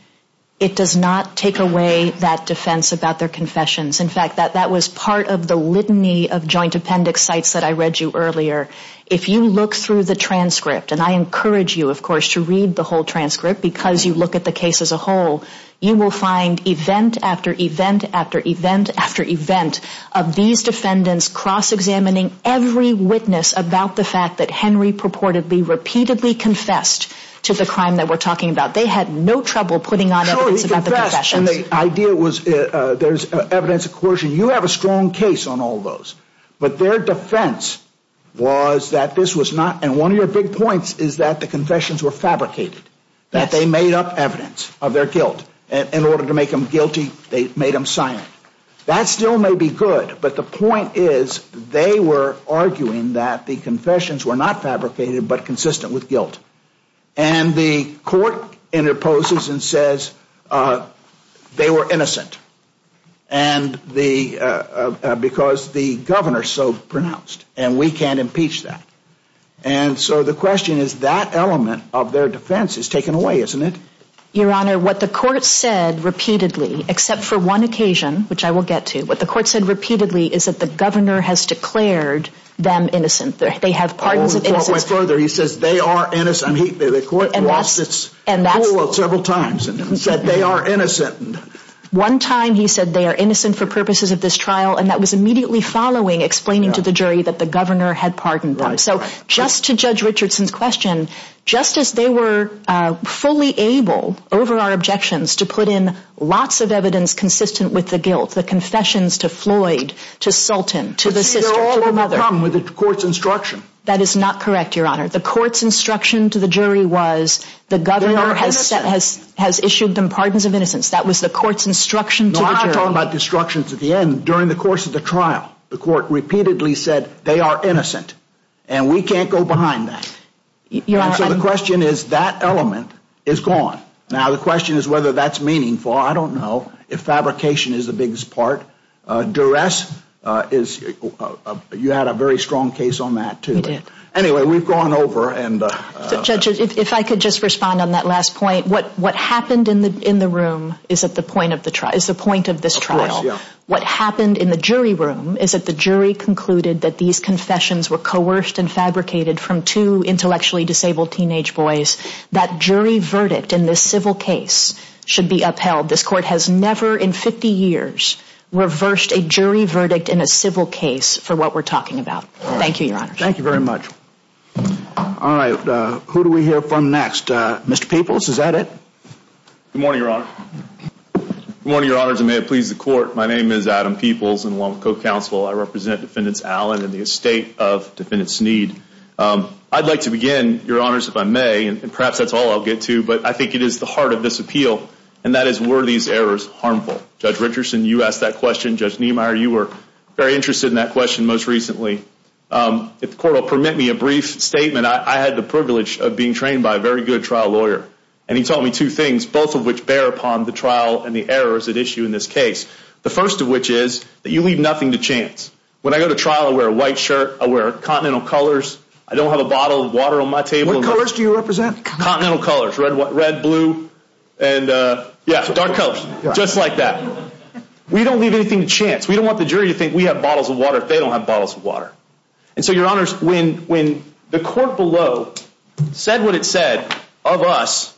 It does not take away that defense about their confessions. In fact, that was part of the litany of joint appendix sites that I read you earlier. If you look through the transcript, and I encourage you, of course, to read the whole transcript because you look at the case as a whole, you will find event after event after event after event of these defendants cross-examining every witness about the fact that Henry purportedly, repeatedly confessed to the crime that we're talking about. They had no trouble putting on evidence about the confessions. Sure, he confessed, and the idea was there's evidence of coercion. You have a strong case on all those, but their defense was that this was not, and one of your big points is that the confessions were fabricated, that they made up evidence of their guilt. In order to make them guilty, they made them silent. That still may be good, but the point is they were arguing that the confessions were not fabricated but consistent with guilt, and the court interposes and says they were innocent because the governor is so pronounced, and we can't impeach that. And so the question is that element of their defense is taken away, isn't it? Your Honor, what the court said repeatedly, except for one occasion, which I will get to, what the court said repeatedly is that the governor has declared them innocent. They have pardons of innocence. Oh, it went further. He says they are innocent. The court lost its cool several times and said they are innocent. One time he said they are innocent for purposes of this trial, and that was immediately following explaining to the jury that the governor had pardoned them. So just to Judge Richardson's question, Justice, they were fully able, over our objections, to put in lots of evidence consistent with the guilt, the confessions to Floyd, to Sultan, to the sister, to the mother. But see, they're all overcome with the court's instruction. That is not correct, Your Honor. The court's instruction to the jury was the governor has issued them pardons of innocence. That was the court's instruction to the jury. No, I'm not talking about instructions at the end. The court repeatedly said they are innocent, and we can't go behind that. So the question is that element is gone. Now the question is whether that's meaningful. I don't know if fabrication is the biggest part. Duress, you had a very strong case on that, too. We did. Anyway, we've gone over. Judge, if I could just respond on that last point. What happened in the room is at the point of this trial. Of course, yeah. What happened in the jury room is that the jury concluded that these confessions were coerced and fabricated from two intellectually disabled teenage boys. That jury verdict in this civil case should be upheld. This court has never in 50 years reversed a jury verdict in a civil case for what we're talking about. Thank you, Your Honor. Thank you very much. All right. Who do we hear from next? Mr. Peeples, is that it? Good morning, Your Honor. Good morning, Your Honor. May it please the court, my name is Adam Peeples, and along with co-counsel, I represent Defendant Allen and the estate of Defendant Sneed. I'd like to begin, Your Honors, if I may, and perhaps that's all I'll get to, but I think it is the heart of this appeal, and that is were these errors harmful? Judge Richardson, you asked that question. Judge Niemeyer, you were very interested in that question most recently. If the court will permit me a brief statement, I had the privilege of being trained by a very good trial lawyer, and he taught me two things, both of which bear upon the trial and the errors at issue in this case. The first of which is that you leave nothing to chance. When I go to trial, I wear a white shirt, I wear continental colors, I don't have a bottle of water on my table. What colors do you represent? Continental colors. Red, blue, and yeah, dark colors. Just like that. We don't leave anything to chance. We don't want the jury to think we have bottles of water if they don't have bottles of water. And so, Your Honors, when the court below said what it said of us,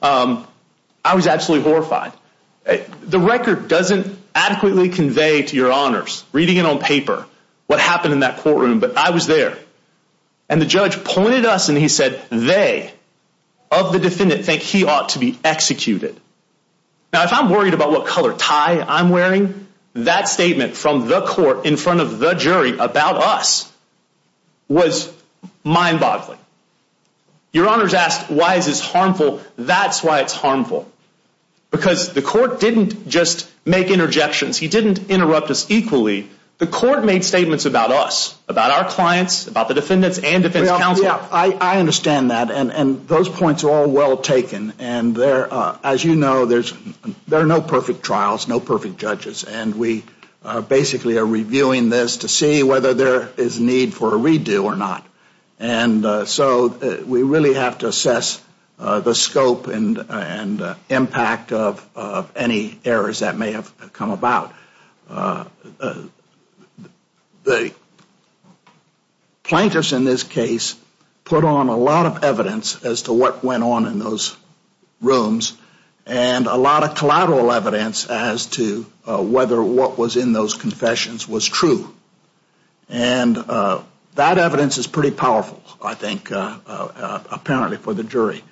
I was absolutely horrified. The record doesn't adequately convey to Your Honors, reading it on paper, what happened in that courtroom, but I was there. And the judge pointed us and he said, they, of the defendant, think he ought to be executed. Now, if I'm worried about what color tie I'm wearing, that statement from the court in front of the jury about us was mind-boggling. Your Honors asked, why is this harmful? That's why it's harmful. Because the court didn't just make interjections. He didn't interrupt us equally. The court made statements about us, about our clients, about the defendants and defense counsel. I understand that, and those points are all well taken. As you know, there are no perfect trials, no perfect judges, and we basically are reviewing this to see whether there is need for a redo or not. And so we really have to assess the scope and impact of any errors that may have come about. The plaintiffs in this case put on a lot of evidence as to what went on in those rooms and a lot of collateral evidence as to whether what was in those confessions was true. And that evidence is pretty powerful, I think, apparently, for the jury.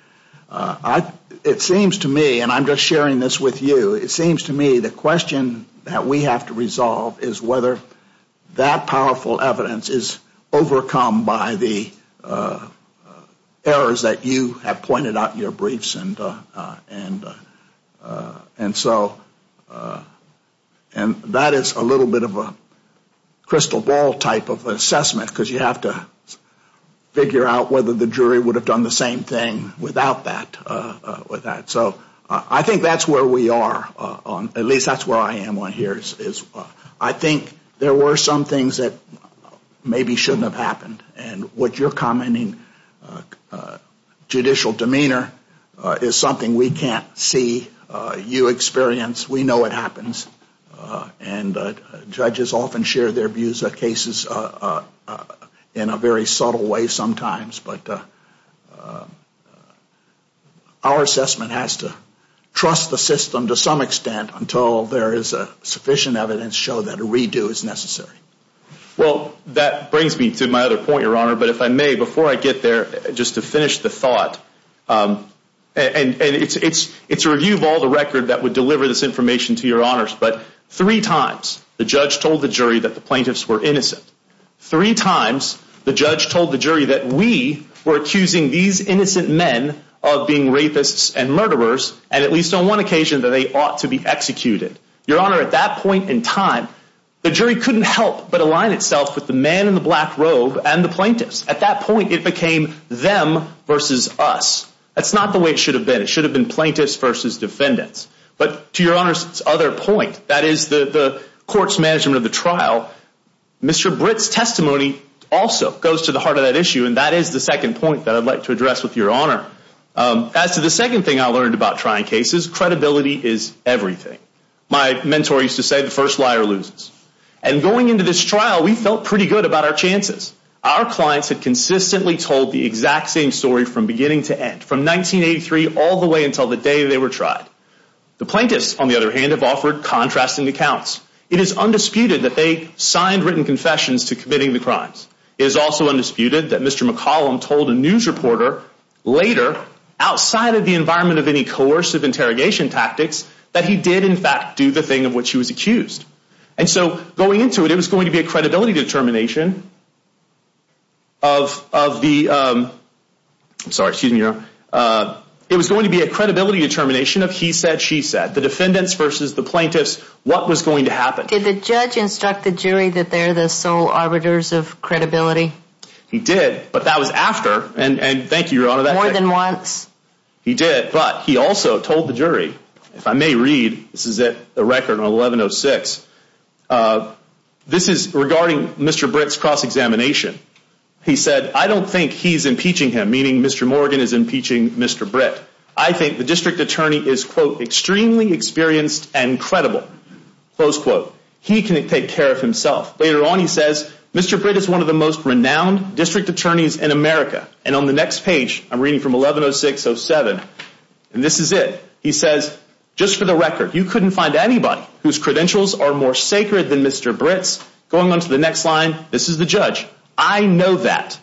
It seems to me, and I'm just sharing this with you, it seems to me the question that we have to resolve is whether that powerful evidence is overcome by the errors that you have pointed out in your briefs. And so that is a little bit of a crystal ball type of assessment because you have to figure out whether the jury would have done the same thing without that. So I think that's where we are, at least that's where I am on here, is I think there were some things that maybe shouldn't have happened. And what you're commenting, judicial demeanor, is something we can't see you experience. We know it happens. And judges often share their views on cases in a very subtle way sometimes. But our assessment has to trust the system to some extent until there is sufficient evidence to show that a redo is necessary. Well, that brings me to my other point, Your Honor. But if I may, before I get there, just to finish the thought, and it's a review of all the record that would deliver this information to Your Honors, but three times the judge told the jury that the plaintiffs were innocent. Three times the judge told the jury that we were accusing these innocent men of being rapists and murderers, and at least on one occasion that they ought to be executed. Your Honor, at that point in time, the jury couldn't help but align itself with the man in the black robe and the plaintiffs. At that point, it became them versus us. That's not the way it should have been. It should have been plaintiffs versus defendants. But to Your Honor's other point, that is the court's management of the trial, Mr. Britt's testimony also goes to the heart of that issue, and that is the second point that I'd like to address with Your Honor. As to the second thing I learned about trying cases, credibility is everything. My mentor used to say, the first liar loses. And going into this trial, we felt pretty good about our chances. Our clients had consistently told the exact same story from beginning to end, from 1983 all the way until the day they were tried. The plaintiffs, on the other hand, have offered contrasting accounts. It is undisputed that they signed written confessions to committing the crimes. It is also undisputed that Mr. McCollum told a news reporter later, outside of the environment of any coercive interrogation tactics, that he did, in fact, do the thing of which he was accused. And so going into it, it was going to be a credibility determination of the, I'm sorry, excuse me, Your Honor. It was going to be a credibility determination of he said, she said. Did the judge instruct the jury that they're the sole arbiters of credibility? He did, but that was after, and thank you, Your Honor. More than once? He did, but he also told the jury, if I may read, this is a record on 1106. This is regarding Mr. Britt's cross-examination. He said, I don't think he's impeaching him, meaning Mr. Morgan is impeaching Mr. Britt. I think the district attorney is, quote, extremely experienced and credible, close quote. He can take care of himself. Later on, he says, Mr. Britt is one of the most renowned district attorneys in America. And on the next page, I'm reading from 1106-07, and this is it. He says, just for the record, you couldn't find anybody whose credentials are more sacred than Mr. Britt's. I know that.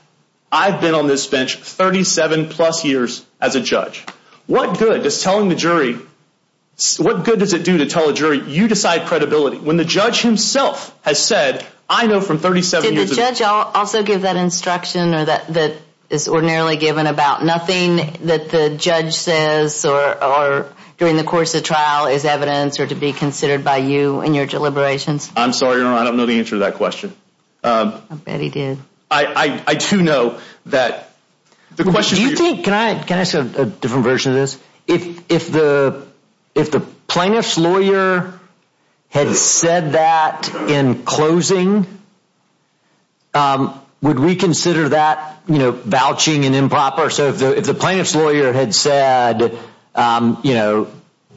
I've been on this bench 37-plus years as a judge. What good does telling the jury, what good does it do to tell the jury, you decide credibility when the judge himself has said, I know from 37 years of experience. Did the judge also give that instruction or that is ordinarily given about nothing that the judge says or during the course of trial is evidence or to be considered by you in your deliberations? I'm sorry, Your Honor, I don't know the answer to that question. I bet he did. I do know that the question is Do you think, can I ask a different version of this? If the plaintiff's lawyer had said that in closing, would we consider that vouching and improper? So if the plaintiff's lawyer had said, you know,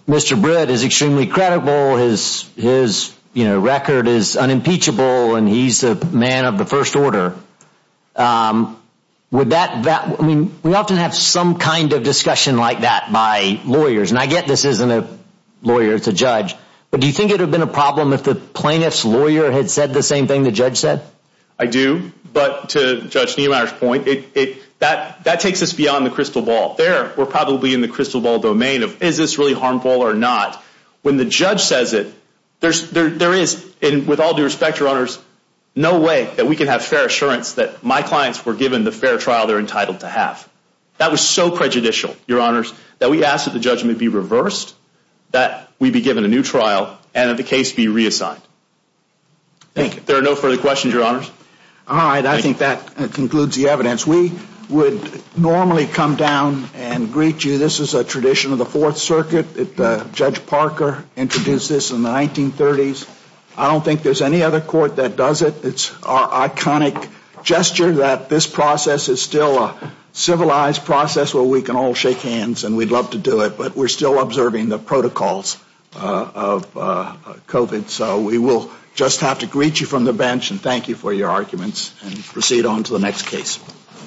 Mr. Britt is extremely credible, his record is unimpeachable, and he's a man of the first order, would that, I mean, we often have some kind of discussion like that by lawyers. And I get this isn't a lawyer, it's a judge. But do you think it would have been a problem if the plaintiff's lawyer had said the same thing the judge said? I do. But to Judge Niemeyer's point, that takes us beyond the crystal ball. There, we're probably in the crystal ball domain of is this really harmful or not. When the judge says it, there is, with all due respect, Your Honors, no way that we can have fair assurance that my clients were given the fair trial they're entitled to have. That was so prejudicial, Your Honors, that we ask that the judgment be reversed, that we be given a new trial, and that the case be reassigned. Thank you. There are no further questions, Your Honors. All right, I think that concludes the evidence. We would normally come down and greet you. This is a tradition of the Fourth Circuit. Judge Parker introduced this in the 1930s. I don't think there's any other court that does it. It's our iconic gesture that this process is still a civilized process where we can all shake hands and we'd love to do it. But we're still observing the protocols of COVID. So we will just have to greet you from the bench and thank you for your arguments and proceed on to the next case.